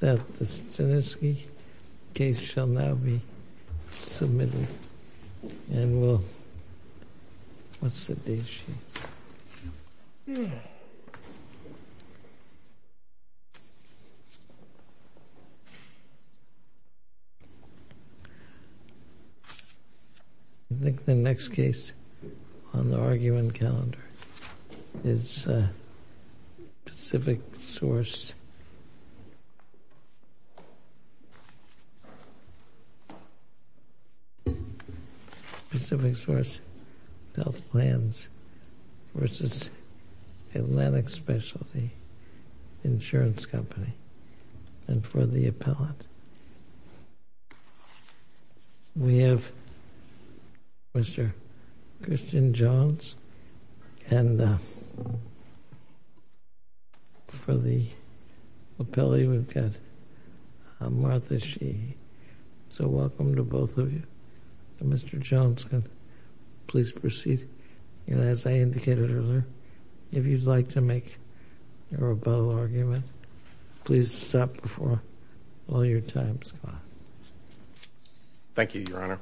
That the Stanislawski case shall now be submitted and will... What's the date? I think the next case on the argument calendar is Pacific Source... Pacific Source Health Plans v. Atlantic Specialty Insurance Company and for the appellant. We have Mr. Christian Jones and for the appellee we've got Martha Sheehy. So welcome to both of you. Mr. Jones, please proceed. And as I indicated earlier, if you'd like to make a rebuttal argument, please stop before all your time is up. Thank you, Your Honor.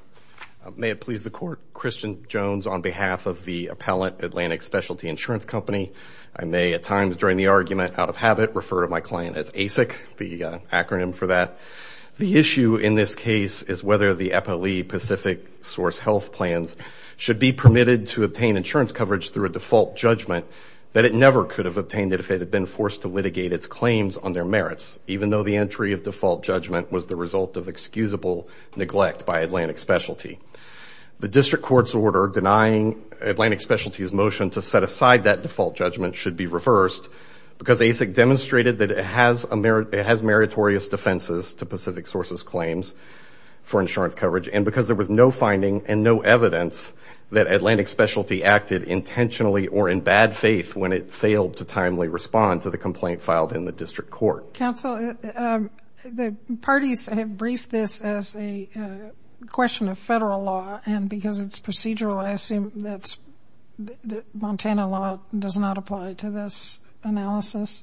May it please the Court, Christian Jones on behalf of the appellant Atlantic Specialty Insurance Company. I may at times during the argument out of habit refer to my client as ASIC, the acronym for that. The issue in this case is whether the appellee Pacific Source Health Plans should be permitted to obtain insurance coverage through a default judgment that it never could have obtained it if it had been forced to litigate its claims on their merits, even though the entry of default judgment was the result of excusable neglect by Atlantic Specialty. The district court's order denying Atlantic Specialty's motion to set aside that default judgment should be reversed because ASIC demonstrated that it has meritorious defenses to Pacific Source's claims for insurance coverage and because there was no finding and no evidence that Atlantic Specialty acted intentionally or in bad faith when it failed to timely respond to the complaint filed in the district court. Counsel, the parties have briefed this as a question of federal law and because it's procedural, I assume that Montana law does not apply to this analysis?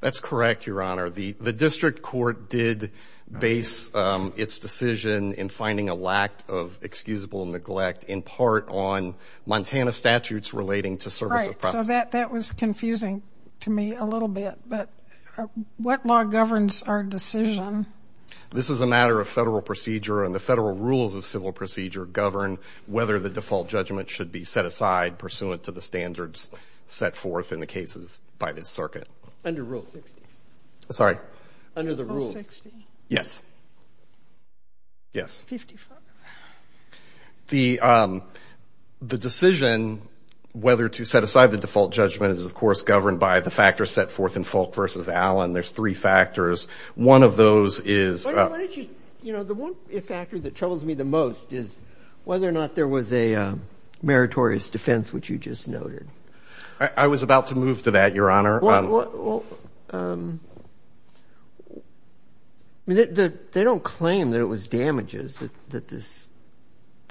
That's correct, Your Honor. The district court did base its decision in finding a lack of excusable neglect in part on Montana statutes relating to service of property. That was confusing to me a little bit, but what law governs our decision? This is a matter of federal procedure, and the federal rules of civil procedure govern whether the default judgment should be set aside pursuant to the standards set forth in the cases by this circuit. Under Rule 60. Sorry? Under the rules. Rule 60? Yes. Yes. Fifty-five. The decision whether to set aside the default judgment is, of course, governed by the factors set forth in Fulk v. Allen. There's three factors. One of those is— Why don't you—you know, the one factor that troubles me the most is whether or not there was a meritorious defense, which you just noted. I was about to move to that, Your Honor. Well, they don't claim that it was damages that this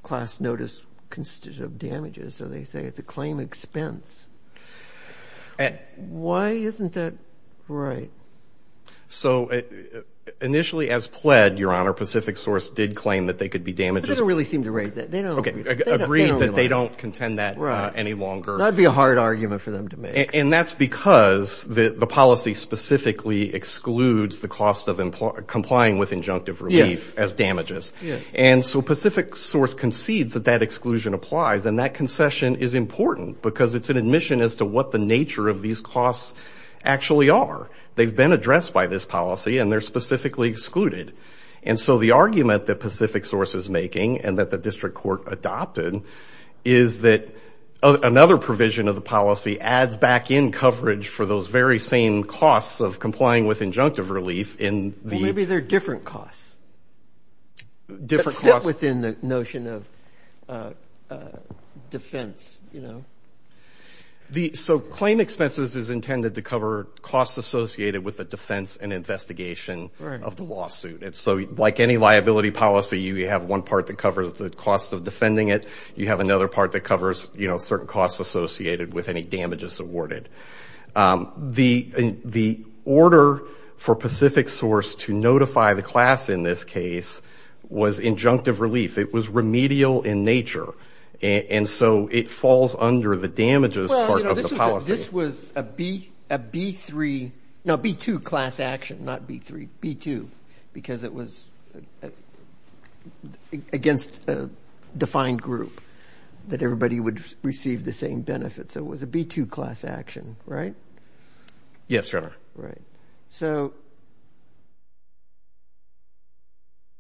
class notice consisted of damages, so they say it's a claim expense. Why isn't that right? So initially as pled, Your Honor, Pacific Source did claim that they could be damages— But they don't really seem to raise that. Okay, agreed that they don't contend that any longer. That would be a hard argument for them to make. And that's because the policy specifically excludes the cost of complying with injunctive relief as damages. And so Pacific Source concedes that that exclusion applies, and that concession is important because it's an admission as to what the nature of these costs actually are. They've been addressed by this policy, and they're specifically excluded. And so the argument that Pacific Source is making and that the district court adopted is that another provision of the policy adds back in coverage for those very same costs of complying with injunctive relief in the— Well, maybe they're different costs. Different costs. That fit within the notion of defense, you know. So claim expenses is intended to cover costs associated with the defense and investigation of the lawsuit. And so like any liability policy, you have one part that covers the cost of defending it. You have another part that covers, you know, certain costs associated with any damages awarded. The order for Pacific Source to notify the class in this case was injunctive relief. It was remedial in nature. And so it falls under the damages part of the policy. So this was a B-3—no, B-2 class action, not B-3, B-2, because it was against a defined group that everybody would receive the same benefits. So it was a B-2 class action, right? Yes, Your Honor. Right. So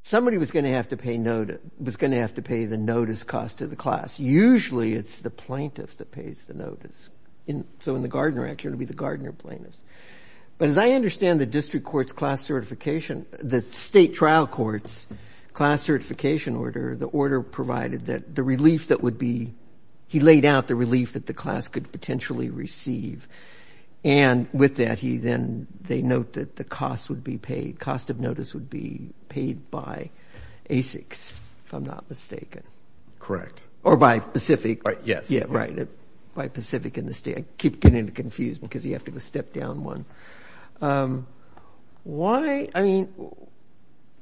somebody was going to have to pay the notice cost to the class. Usually it's the plaintiff that pays the notice. So in the Gardner Act, it would be the Gardner plaintiffs. But as I understand the district court's class certification—the state trial court's class certification order, the order provided that the relief that would be—he laid out the relief that the class could potentially receive. And with that, he then—they note that the cost would be paid. Cost of notice would be paid by ASICs, if I'm not mistaken. Correct. Or by Pacific. Yes. Yeah, right. By Pacific and the state. I keep getting it confused because you have to step down one. Why—I mean,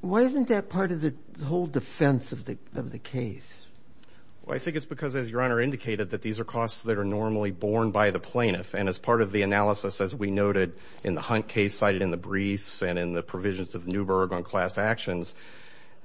why isn't that part of the whole defense of the case? Well, I think it's because, as Your Honor indicated, that these are costs that are normally borne by the plaintiff. And as part of the analysis, as we noted in the Hunt case cited in the briefs and in the provisions of Newburgh on class actions,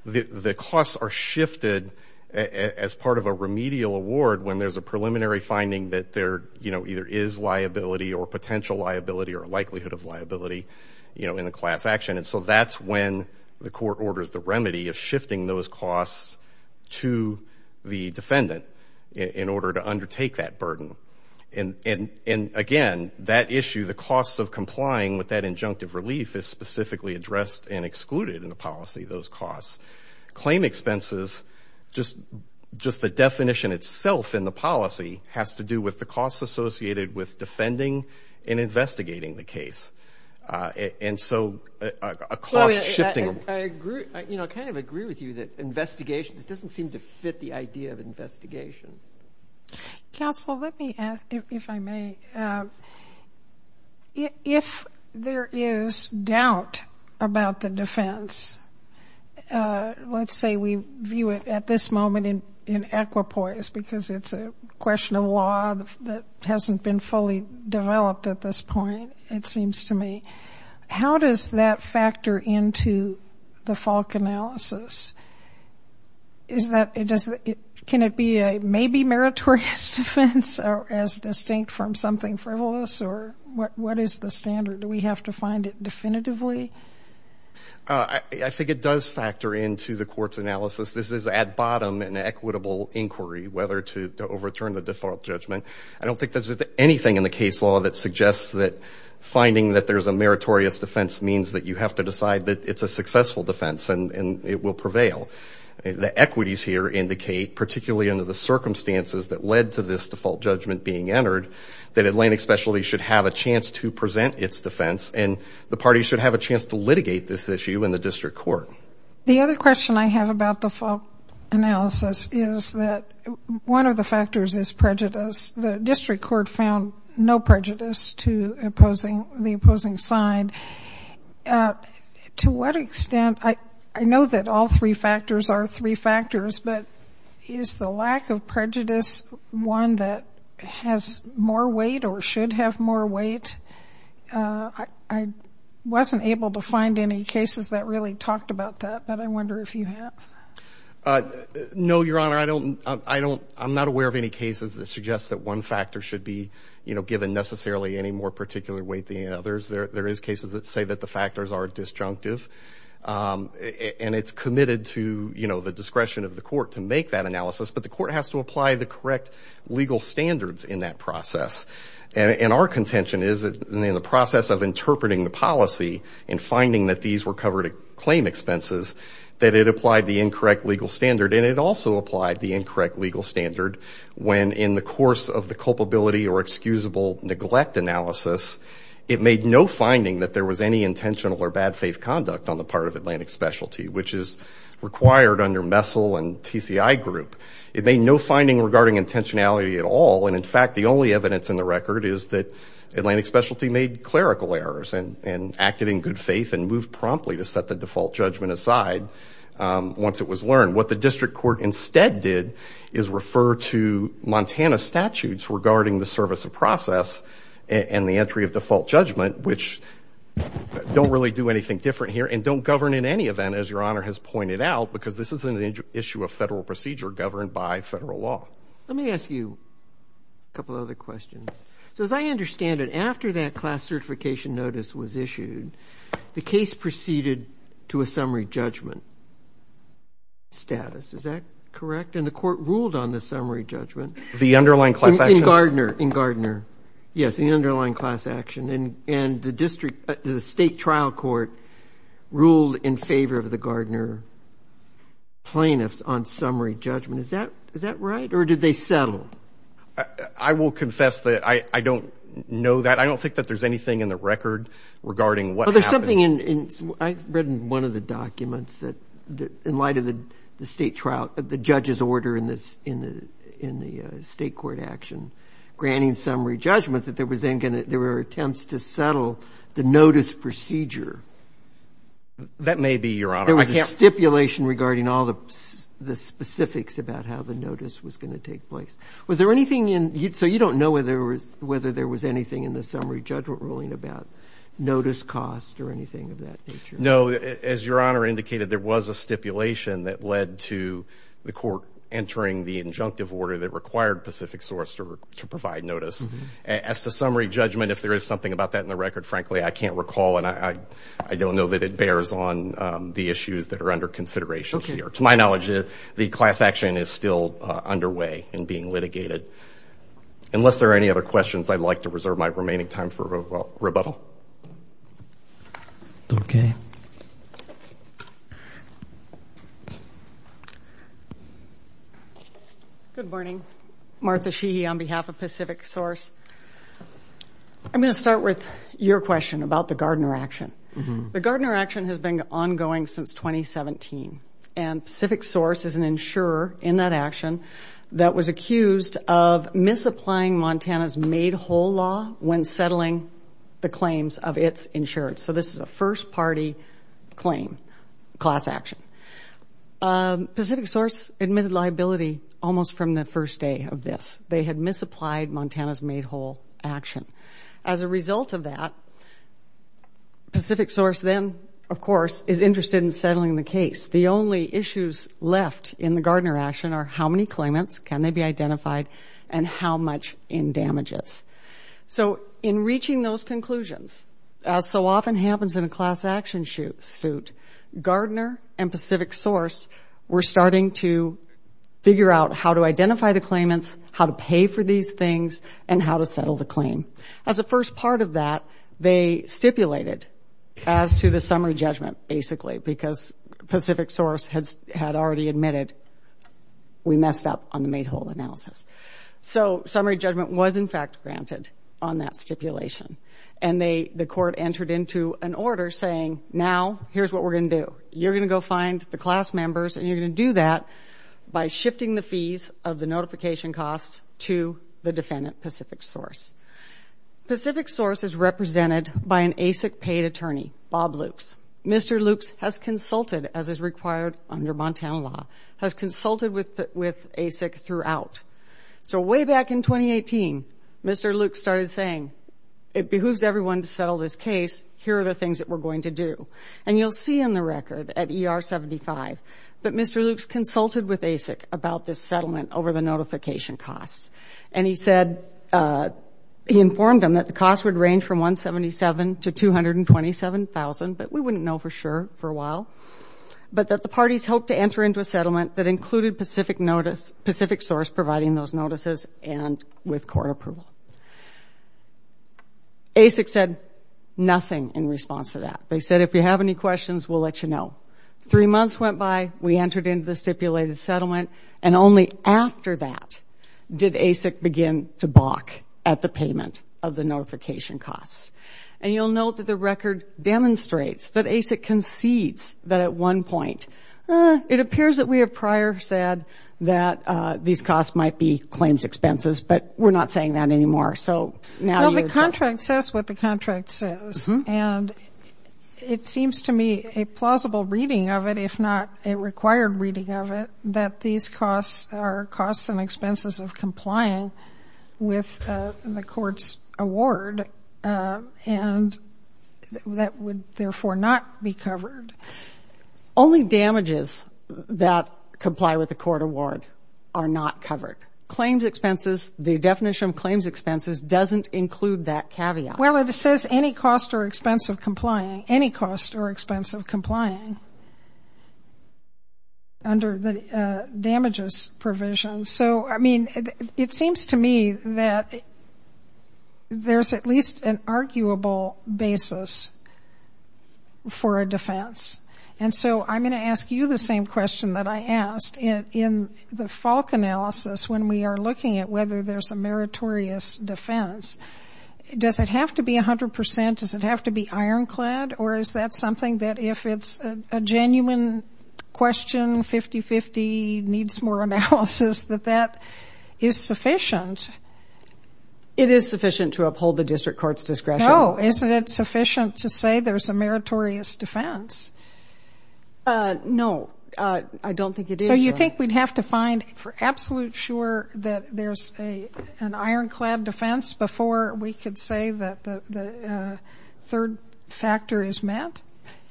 the costs are shifted as part of a remedial award when there's a preliminary finding that there, you know, either is liability or potential liability or likelihood of liability, you know, in a class action. And so that's when the court orders the remedy of shifting those costs to the defendant in order to undertake that burden. And, again, that issue, the costs of complying with that injunctive relief, is specifically addressed and excluded in the policy, those costs. Claim expenses, just the definition itself in the policy, has to do with the costs associated with defending and investigating the case. And so a cost shifting— I agree, you know, I kind of agree with you that investigation, this doesn't seem to fit the idea of investigation. Counsel, let me ask, if I may, if there is doubt about the defense, let's say we view it at this moment in equipoise because it's a question of law that hasn't been fully developed at this point, it seems to me, how does that factor into the Falk analysis? Is that—can it be a maybe meritorious defense as distinct from something frivolous? Or what is the standard? Do we have to find it definitively? I think it does factor into the court's analysis. This is, at bottom, an equitable inquiry, whether to overturn the default judgment. I don't think there's anything in the case law that suggests that finding that there's a meritorious defense means that you have to decide that it's a successful defense and it will prevail. The equities here indicate, particularly under the circumstances that led to this default judgment being entered, that Atlantic Specialties should have a chance to present its defense and the parties should have a chance to litigate this issue in the district court. The other question I have about the Falk analysis is that one of the factors is prejudice. The district court found no prejudice to the opposing side. To what extent—I know that all three factors are three factors, but is the lack of prejudice one that has more weight or should have more weight? I wasn't able to find any cases that really talked about that, but I wonder if you have. No, Your Honor. I'm not aware of any cases that suggest that one factor should be given necessarily any more particular weight than others. There is cases that say that the factors are disjunctive, and it's committed to the discretion of the court to make that analysis, but the court has to apply the correct legal standards in that process. And our contention is that in the process of interpreting the policy and finding that these were covered claim expenses, that it applied the incorrect legal standard, and it also applied the incorrect legal standard when in the course of the culpability or excusable neglect analysis it made no finding that there was any intentional or bad faith conduct on the part of Atlantic Specialty, which is required under MESL and TCI group. It made no finding regarding intentionality at all, and in fact the only evidence in the record is that Atlantic Specialty made clerical errors and acted in good faith and moved promptly to set the default judgment aside once it was learned. What the district court instead did is refer to Montana statutes regarding the service of process and the entry of default judgment, which don't really do anything different here, and don't govern in any event, as Your Honor has pointed out, because this isn't an issue of federal procedure governed by federal law. Let me ask you a couple other questions. So as I understand it, after that class certification notice was issued, the case proceeded to a summary judgment status. Is that correct? And the court ruled on the summary judgment. The underlying class action? In Gardner. Yes, the underlying class action. And the state trial court ruled in favor of the Gardner plaintiffs on summary judgment. Is that right, or did they settle? I will confess that I don't know that. I don't think that there's anything in the record regarding what happened. Well, there's something in ‑‑ I read in one of the documents that in light of the state trial, the judge's order in the state court action granting summary judgment, that there were attempts to settle the notice procedure. That may be, Your Honor. There was a stipulation regarding all the specifics about how the notice was going to take place. Was there anything in ‑‑ so you don't know whether there was anything in the summary judgment ruling about notice cost or anything of that nature? No. As Your Honor indicated, there was a stipulation that led to the court entering the injunctive order that required Pacific Source to provide notice. As to summary judgment, if there is something about that in the record, frankly, I can't recall, and I don't know that it bears on the issues that are under consideration here. To my knowledge, the class action is still underway and being litigated. Unless there are any other questions, I'd like to reserve my remaining time for rebuttal. Good morning. Martha Sheehy on behalf of Pacific Source. I'm going to start with your question about the Gardner action. The Gardner action has been ongoing since 2017. And Pacific Source is an insurer in that action that was accused of misapplying Montana's made whole law when settling the claims of its insurance. So this is a first party claim, class action. Pacific Source admitted liability almost from the first day of this. They had misapplied Montana's made whole action. As a result of that, Pacific Source then, of course, is interested in settling the case. The only issues left in the Gardner action are how many claimants, can they be identified, and how much in damages. So in reaching those conclusions, as so often happens in a class action suit, Gardner and Pacific Source were starting to figure out how to identify the claimants, how to pay for these things, and how to settle the claim. As a first part of that, they stipulated as to the summary judgment, basically, because Pacific Source had already admitted we messed up on the made whole analysis. So summary judgment was, in fact, granted on that stipulation. And the court entered into an order saying, now, here's what we're going to do. You're going to go find the class members, and you're going to do that by shifting the fees of the notification costs to the defendant, Pacific Source. Pacific Source is represented by an ASIC paid attorney, Bob Lukes. Mr. Lukes has consulted, as is required under Montana law, has consulted with ASIC throughout. So way back in 2018, Mr. Lukes started saying, it behooves everyone to settle this case. Here are the things that we're going to do. And you'll see in the record at ER 75 that Mr. Lukes consulted with ASIC about this settlement over the notification costs. And he said he informed them that the costs would range from $177,000 to $227,000, but we wouldn't know for sure for a while, but that the parties hoped to enter into a settlement that included Pacific Notice, Pacific Source providing those notices and with court approval. ASIC said nothing in response to that. They said, if you have any questions, we'll let you know. Three months went by, we entered into the stipulated settlement, and only after that did ASIC begin to balk at the payment of the notification costs. And you'll note that the record demonstrates that ASIC concedes that at one point, it appears that we have prior said that these costs might be claims expenses, but we're not saying that anymore. Well, the contract says what the contract says, and it seems to me a plausible reading of it, if not a required reading of it, that these costs are costs and expenses of complying with the court's award and that would therefore not be covered. Only damages that comply with the court award are not covered. The definition of claims expenses doesn't include that caveat. Well, it says any cost or expense of complying, any cost or expense of complying under the damages provision. So, I mean, it seems to me that there's at least an arguable basis for a defense. And so I'm going to ask you the same question that I asked. In the Falk analysis, when we are looking at whether there's a meritorious defense, does it have to be 100 percent? Does it have to be ironclad? Or is that something that if it's a genuine question, 50-50, needs more analysis, that that is sufficient? It is sufficient to uphold the district court's discretion. No, isn't it sufficient to say there's a meritorious defense? No, I don't think it is. So you think we'd have to find for absolute sure that there's an ironclad defense before we could say that the third factor is met?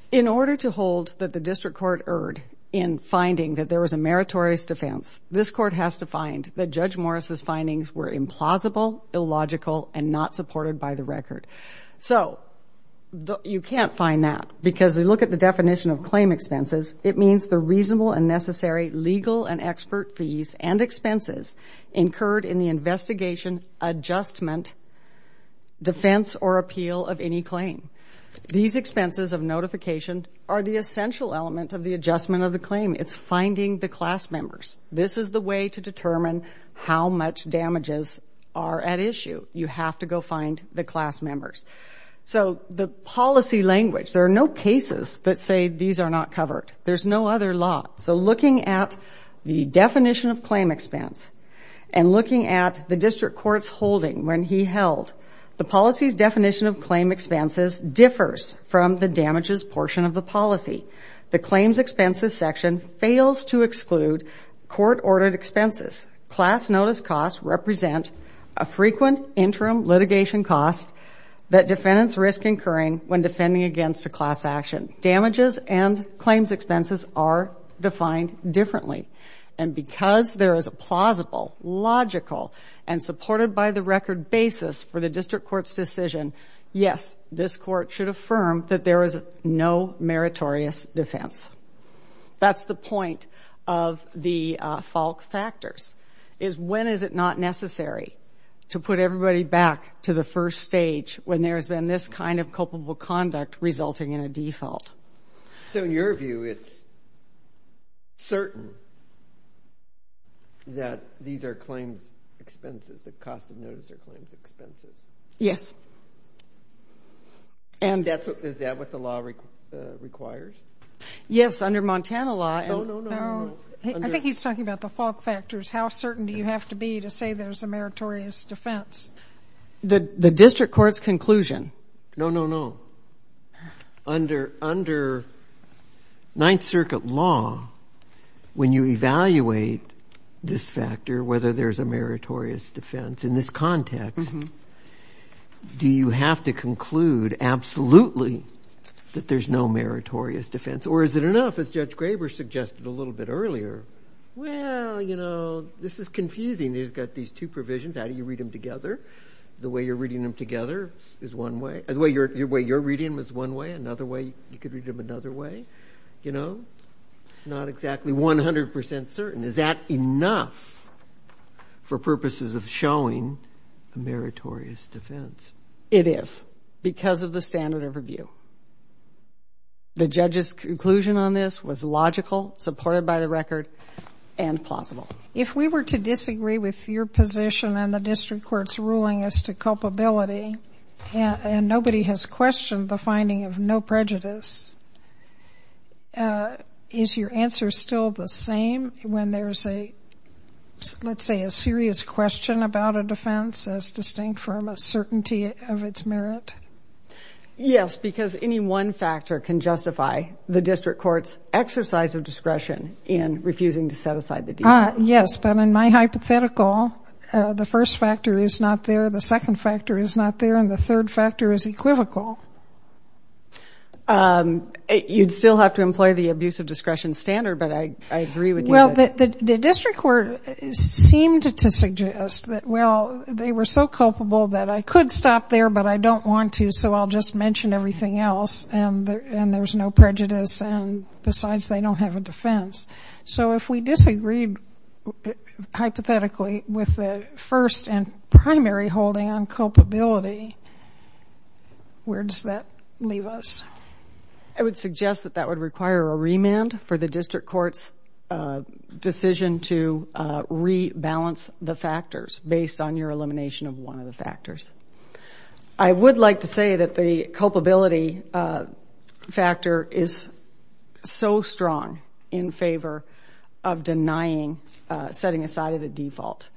In order to hold that the district court erred in finding that there was a meritorious defense, this court has to find that Judge Morris' findings were implausible, illogical, and not supported by the record. So you can't find that because we look at the definition of claim expenses. It means the reasonable and necessary legal and expert fees and expenses incurred in the investigation, adjustment, defense, or appeal of any claim. These expenses of notification are the essential element of the adjustment of the claim. It's finding the class members. This is the way to determine how much damages are at issue. You have to go find the class members. So the policy language, there are no cases that say these are not covered. There's no other law. So looking at the definition of claim expense and looking at the district court's holding when he held, the policy's definition of claim expenses differs from the damages portion of the policy. The claims expenses section fails to exclude court-ordered expenses. Class notice costs represent a frequent interim litigation cost that defendants risk incurring when defending against a class action. Damages and claims expenses are defined differently. And because there is a plausible, logical, and supported by the record basis for the district court's decision, yes, this court should affirm that there is no meritorious defense. That's the point of the Falk factors, is when is it not necessary to put everybody back to the first stage when there has been this kind of culpable conduct resulting in a default. So in your view, it's certain that these are claims expenses, that cost of notice are claims expenses? Yes. Is that what the law requires? Yes, under Montana law. No, no, no. I think he's talking about the Falk factors. How certain do you have to be to say there's a meritorious defense? The district court's conclusion. No, no, no. Under Ninth Circuit law, when you evaluate this factor, whether there's a meritorious defense in this context, do you have to conclude absolutely that there's no meritorious defense? Or is it enough, as Judge Graber suggested a little bit earlier, well, you know, this is confusing. He's got these two provisions. How do you read them together? The way you're reading them together is one way. The way you're reading them is one way. Another way, you could read them another way. You know, not exactly 100% certain. Is that enough for purposes of showing a meritorious defense? It is because of the standard of review. The judge's conclusion on this was logical, supported by the record, and plausible. If we were to disagree with your position and the district court's ruling as to culpability, and nobody has questioned the finding of no prejudice, is your answer still the same when there's a, let's say, a serious question about a defense as distinct from a certainty of its merit? Yes, because any one factor can justify the district court's exercise of discretion in refusing to set aside the defense. Yes, but in my hypothetical, the first factor is not there, the second factor is not there, and the third factor is equivocal. You'd still have to employ the abuse of discretion standard, but I agree with you. Well, the district court seemed to suggest that, well, they were so culpable that I could stop there, but I don't want to, so I'll just mention everything else, and there's no prejudice, and besides, they don't have a defense. So if we disagreed hypothetically with the first and primary holding on culpability, where does that leave us? I would suggest that that would require a remand for the district court's decision to rebalance the factors based on your elimination of one of the factors. I would like to say that the culpability factor is so strong in favor of denying, setting aside of the default.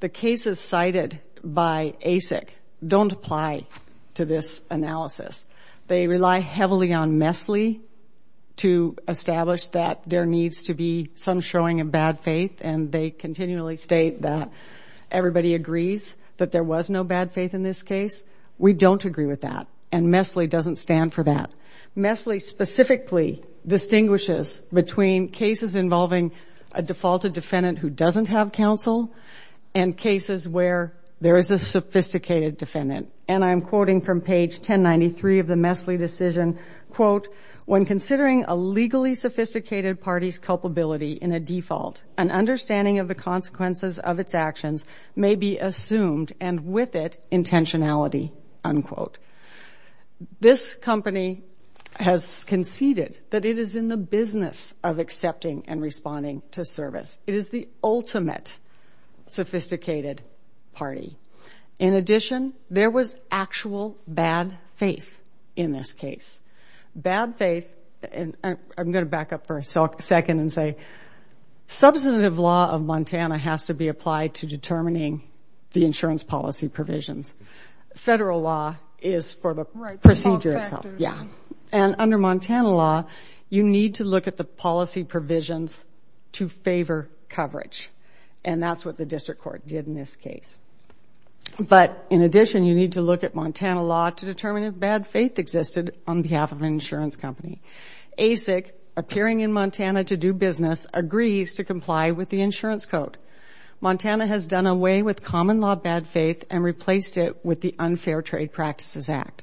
The cases cited by ASIC don't apply to this analysis. They rely heavily on MESLI to establish that there needs to be some showing of bad faith, and they continually state that everybody agrees that there was no bad faith in this case. We don't agree with that, and MESLI doesn't stand for that. MESLI specifically distinguishes between cases involving a defaulted defendant who doesn't have counsel and cases where there is a sophisticated defendant, and I'm quoting from page 1093 of the MESLI decision, quote, when considering a legally sophisticated party's culpability in a default, an understanding of the consequences of its actions may be assumed, and with it intentionality, unquote. This company has conceded that it is in the business of accepting and responding to service. It is the ultimate sophisticated party. In addition, there was actual bad faith in this case. Bad faith, and I'm going to back up for a second and say, substantive law of Montana has to be applied to determining the insurance policy provisions. Federal law is for the procedure itself. Yeah, and under Montana law, you need to look at the policy provisions to favor coverage, and that's what the district court did in this case. But in addition, you need to look at Montana law to determine if bad faith existed on behalf of an insurance company. ASIC, appearing in Montana to do business, agrees to comply with the insurance code. Montana has done away with common law bad faith and replaced it with the Unfair Trade Practices Act.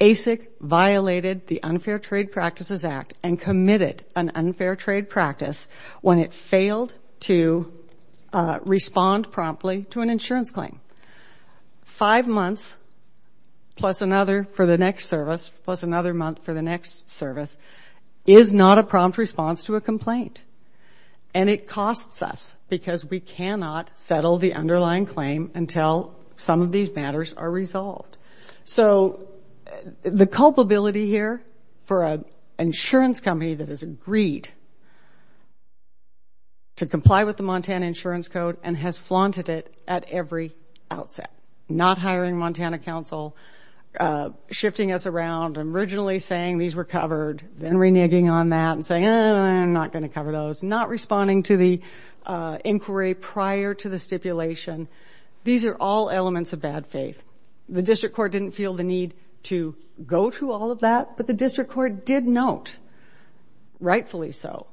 ASIC violated the Unfair Trade Practices Act and committed an unfair trade practice when it failed to respond promptly to an insurance claim. Five months plus another for the next service, plus another month for the next service, is not a prompt response to a complaint, and it costs us because we cannot settle the underlying claim until some of these matters are resolved. So the culpability here for an insurance company that has agreed to comply with the Montana insurance code and has flaunted it at every outset, not hiring Montana counsel, shifting us around, and originally saying these were covered, then reneging on that and saying, eh, I'm not going to cover those, not responding to the inquiry prior to the stipulation, these are all elements of bad faith. The district court didn't feel the need to go through all of that, but the district court did note, rightfully so,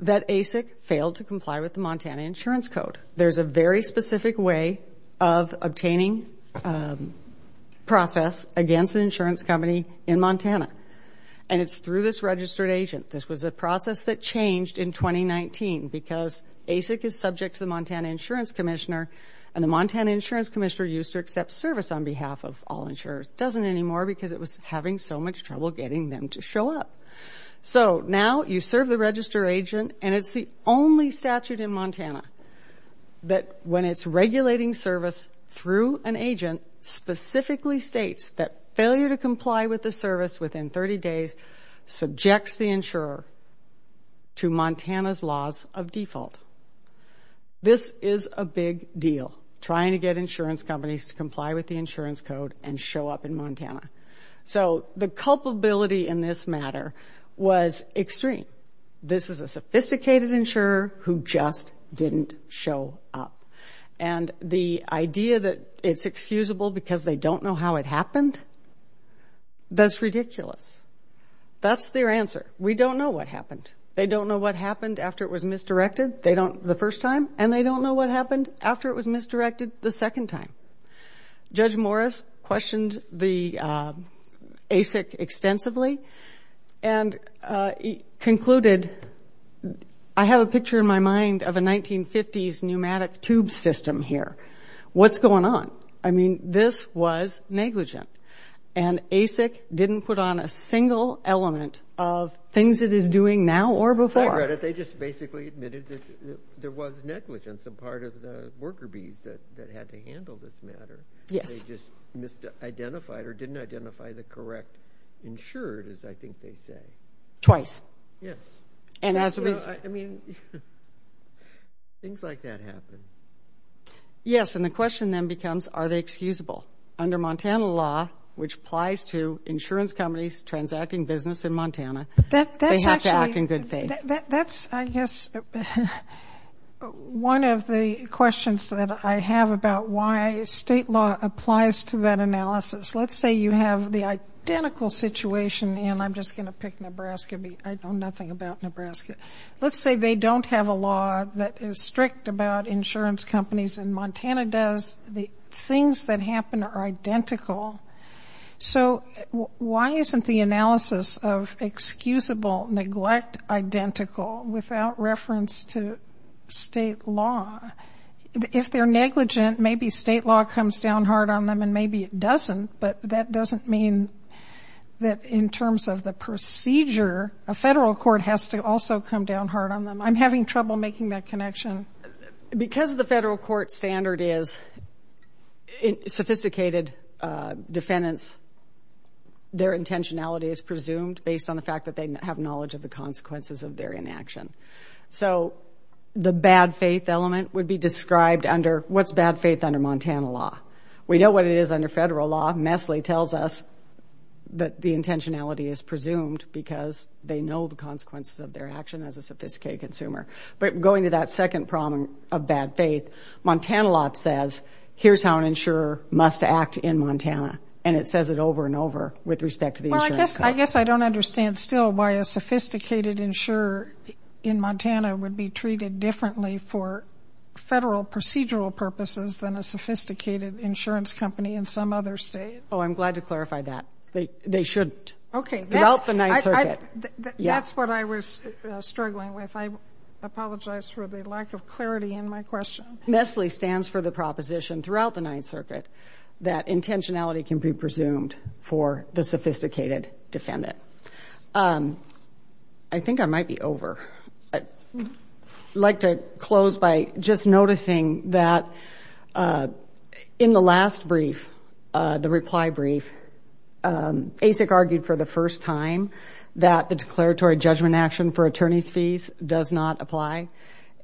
that ASIC failed to comply with the Montana insurance code. There's a very specific way of obtaining process against an insurance company in Montana, and it's through this registered agent. This was a process that changed in 2019 because ASIC is subject to the Montana Insurance Commissioner, and the Montana Insurance Commissioner used to accept service on behalf of all insurers. It doesn't anymore because it was having so much trouble getting them to show up. So now you serve the registered agent, and it's the only statute in Montana that, when it's regulating service through an agent, specifically states that failure to comply with the service within 30 days subjects the insurer to Montana's laws of default. This is a big deal, trying to get insurance companies to comply with the insurance code and show up in Montana. So the culpability in this matter was extreme. This is a sophisticated insurer who just didn't show up, and the idea that it's excusable because they don't know how it happened, that's ridiculous. That's their answer. We don't know what happened. They don't know what happened after it was misdirected. They don't the first time, and they don't know what happened after it was misdirected the second time. Judge Morris questioned the ASIC extensively and concluded, I have a picture in my mind of a 1950s pneumatic tube system here. What's going on? I mean, this was negligent, and ASIC didn't put on a single element of things it is doing now or before. They just basically admitted that there was negligence, a part of the worker bees that had to handle this matter. They just misidentified or didn't identify the correct insured, as I think they say. Twice. Yes. I mean, things like that happen. Yes, and the question then becomes, are they excusable? Under Montana law, which applies to insurance companies transacting business in Montana, they have to act in good faith. That's, I guess, one of the questions that I have about why state law applies to that analysis. Let's say you have the identical situation, and I'm just going to pick Nebraska. I know nothing about Nebraska. Let's say they don't have a law that is strict about insurance companies, and Montana does. The things that happen are identical. So why isn't the analysis of excusable neglect identical without reference to state law? If they're negligent, maybe state law comes down hard on them, and maybe it doesn't, but that doesn't mean that in terms of the procedure, a federal court has to also come down hard on them. I'm having trouble making that connection. Because the federal court standard is sophisticated defendants, their intentionality is presumed based on the fact that they have knowledge of the consequences of their inaction. So the bad faith element would be described under what's bad faith under Montana law. We know what it is under federal law. MESLI tells us that the intentionality is presumed because they know the consequences of their action as a sophisticated consumer. But going to that second problem of bad faith, Montana law says here's how an insurer must act in Montana, and it says it over and over with respect to the insurance company. Well, I guess I don't understand still why a sophisticated insurer in Montana would be treated differently for federal procedural purposes than a sophisticated insurance company in some other state. Oh, I'm glad to clarify that. They should develop the Ninth Circuit. That's what I was struggling with. I apologize for the lack of clarity in my question. MESLI stands for the proposition throughout the Ninth Circuit that intentionality can be presumed for the sophisticated defendant. I think I might be over. I'd like to close by just noticing that in the last brief, the reply brief, ASIC argued for the first time that the declaratory judgment action for attorney's fees does not apply,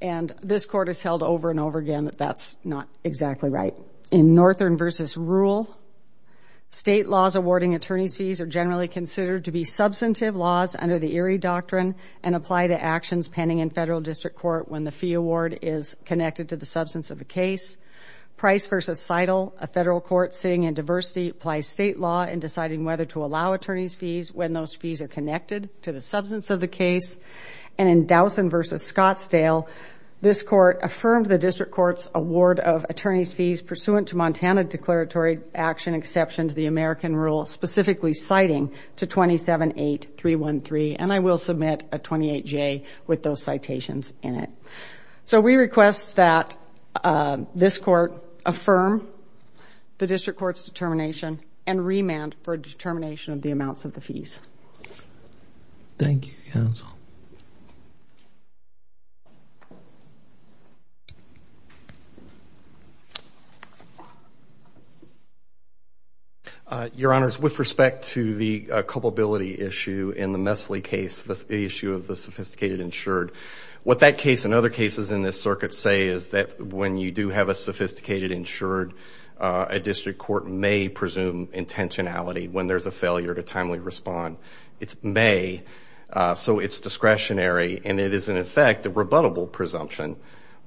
and this Court has held over and over again that that's not exactly right. In Northern v. Rule, state laws awarding attorney's fees are generally considered to be substantive laws under the Erie Doctrine and apply to actions pending in federal district court when the fee award is connected to the substance of the case. Price v. Seidel, a federal court sitting in diversity, applies state law in deciding whether to allow attorney's fees when those fees are connected to the substance of the case. And in Dowson v. Scottsdale, this Court affirmed the district court's award of attorney's fees pursuant to Montana declaratory action exception to the American Rule, specifically citing to 27.8.313, and I will submit a 28J with those citations in it. So we request that this Court affirm the district court's determination and remand for determination of the amounts of the fees. Thank you, counsel. Your Honors, with respect to the culpability issue in the Messley case, the issue of the sophisticated insured, what that case and other cases in this circuit say is that when you do have a sophisticated insured, a district court may presume intentionality when there's a failure to timely respond. It's may, so it's discretionary, and it is, in effect, a rebuttable presumption,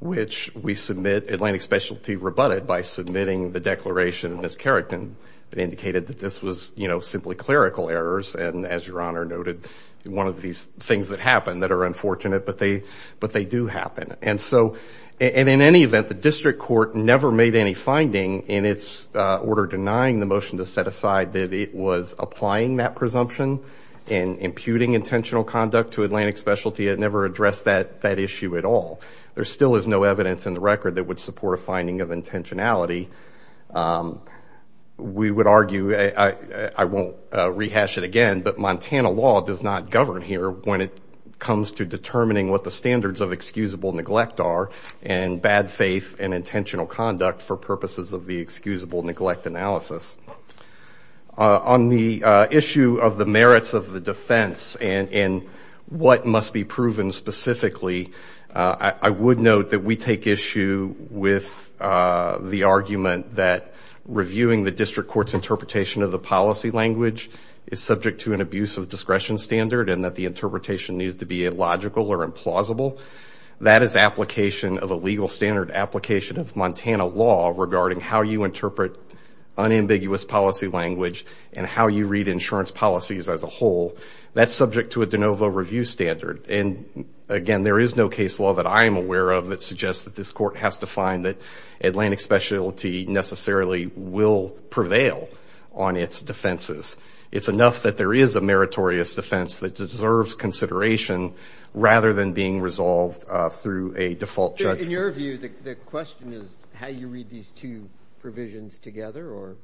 which Atlantic Specialty rebutted by submitting the declaration in this keratin that indicated that this was simply clerical errors, and as Your Honor noted, one of these things that happen that are unfortunate, but they do happen. And so in any event, the district court never made any finding in its order denying the motion to set aside that it was applying that presumption and imputing intentional conduct to Atlantic Specialty. It never addressed that issue at all. There still is no evidence in the record that would support a finding of intentionality. We would argue, I won't rehash it again, but Montana law does not govern here when it comes to determining what the standards of excusable neglect are and bad faith and intentional conduct for purposes of the excusable neglect analysis. On the issue of the merits of the defense and what must be proven specifically, I would note that we take issue with the argument that reviewing the district court's interpretation of the policy language is subject to an abuse of discretion standard and that the interpretation needs to be illogical or implausible. That is application of a legal standard application of Montana law regarding how you interpret unambiguous policy language and how you read insurance policies as a whole. That's subject to a de novo review standard. Again, there is no case law that I am aware of that suggests that this court has to find that Atlantic Specialty necessarily will prevail on its defenses. It's enough that there is a meritorious defense that deserves consideration rather than being resolved through a default judgment. In your view, the question is how you read these two provisions together or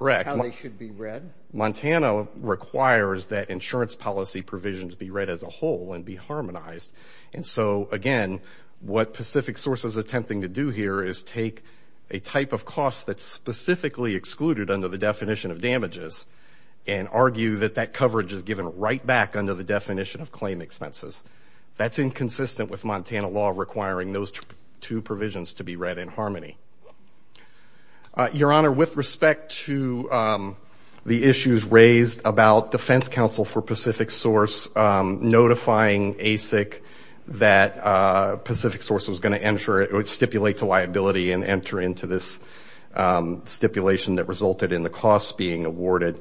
how they should be read? Correct. Montana requires that insurance policy provisions be read as a whole and be harmonized. And so, again, what Pacific Source is attempting to do here is take a type of cost that's specifically excluded under the definition of damages and argue that that coverage is given right back under the definition of claim expenses. That's inconsistent with Montana law requiring those two provisions to be read in harmony. Your Honor, with respect to the issues raised about defense counsel for Pacific Source notifying ASIC that Pacific Source was going to stipulate to liability and enter into this stipulation that resulted in the costs being awarded,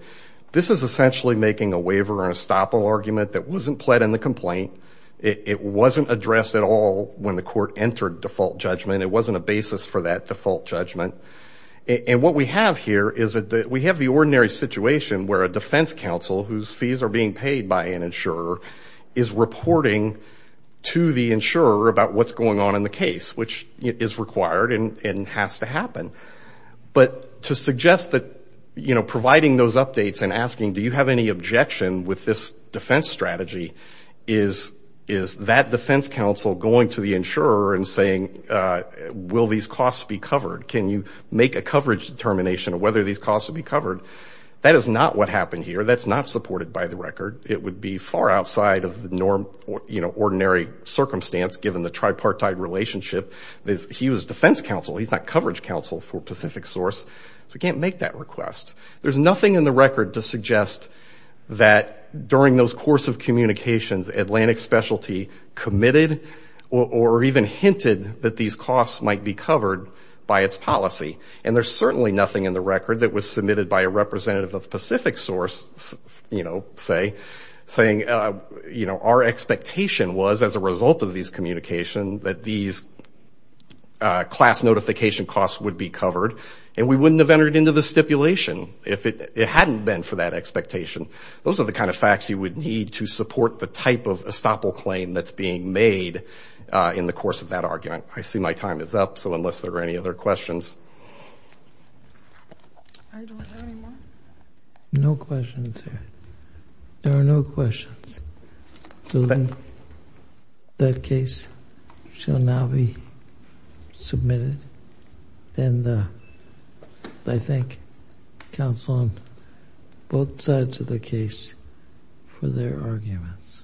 this is essentially making a waiver and a stop all argument that wasn't pled in the complaint. It wasn't addressed at all when the court entered default judgment. It wasn't a basis for that default judgment. And what we have here is that we have the ordinary situation where a defense counsel whose fees are being paid by an insurer is reporting to the insurer about what's going on in the case, which is required and has to happen. But to suggest that providing those updates and asking do you have any objection with this defense strategy is that defense counsel going to the insurer and saying will these costs be covered? Can you make a coverage determination of whether these costs will be covered? That is not what happened here. That's not supported by the record. It would be far outside of the ordinary circumstance given the tripartite relationship. He was defense counsel. He's not coverage counsel for Pacific Source, so he can't make that request. There's nothing in the record to suggest that during those course of communications, Atlantic Specialty committed or even hinted that these costs might be covered by its policy. And there's certainly nothing in the record that was submitted by a representative of Pacific Source, you know, say, saying, you know, our expectation was as a result of these communications that these class notification costs would be covered, and we wouldn't have entered into the stipulation if it hadn't been for that expectation. Those are the kind of facts you would need to support the type of estoppel claim that's being made in the course of that argument. I see my time is up, so unless there are any other questions. I don't have any more. No questions. There are no questions. So then that case shall now be submitted. And I thank counsel on both sides of the case for their arguments. All rise.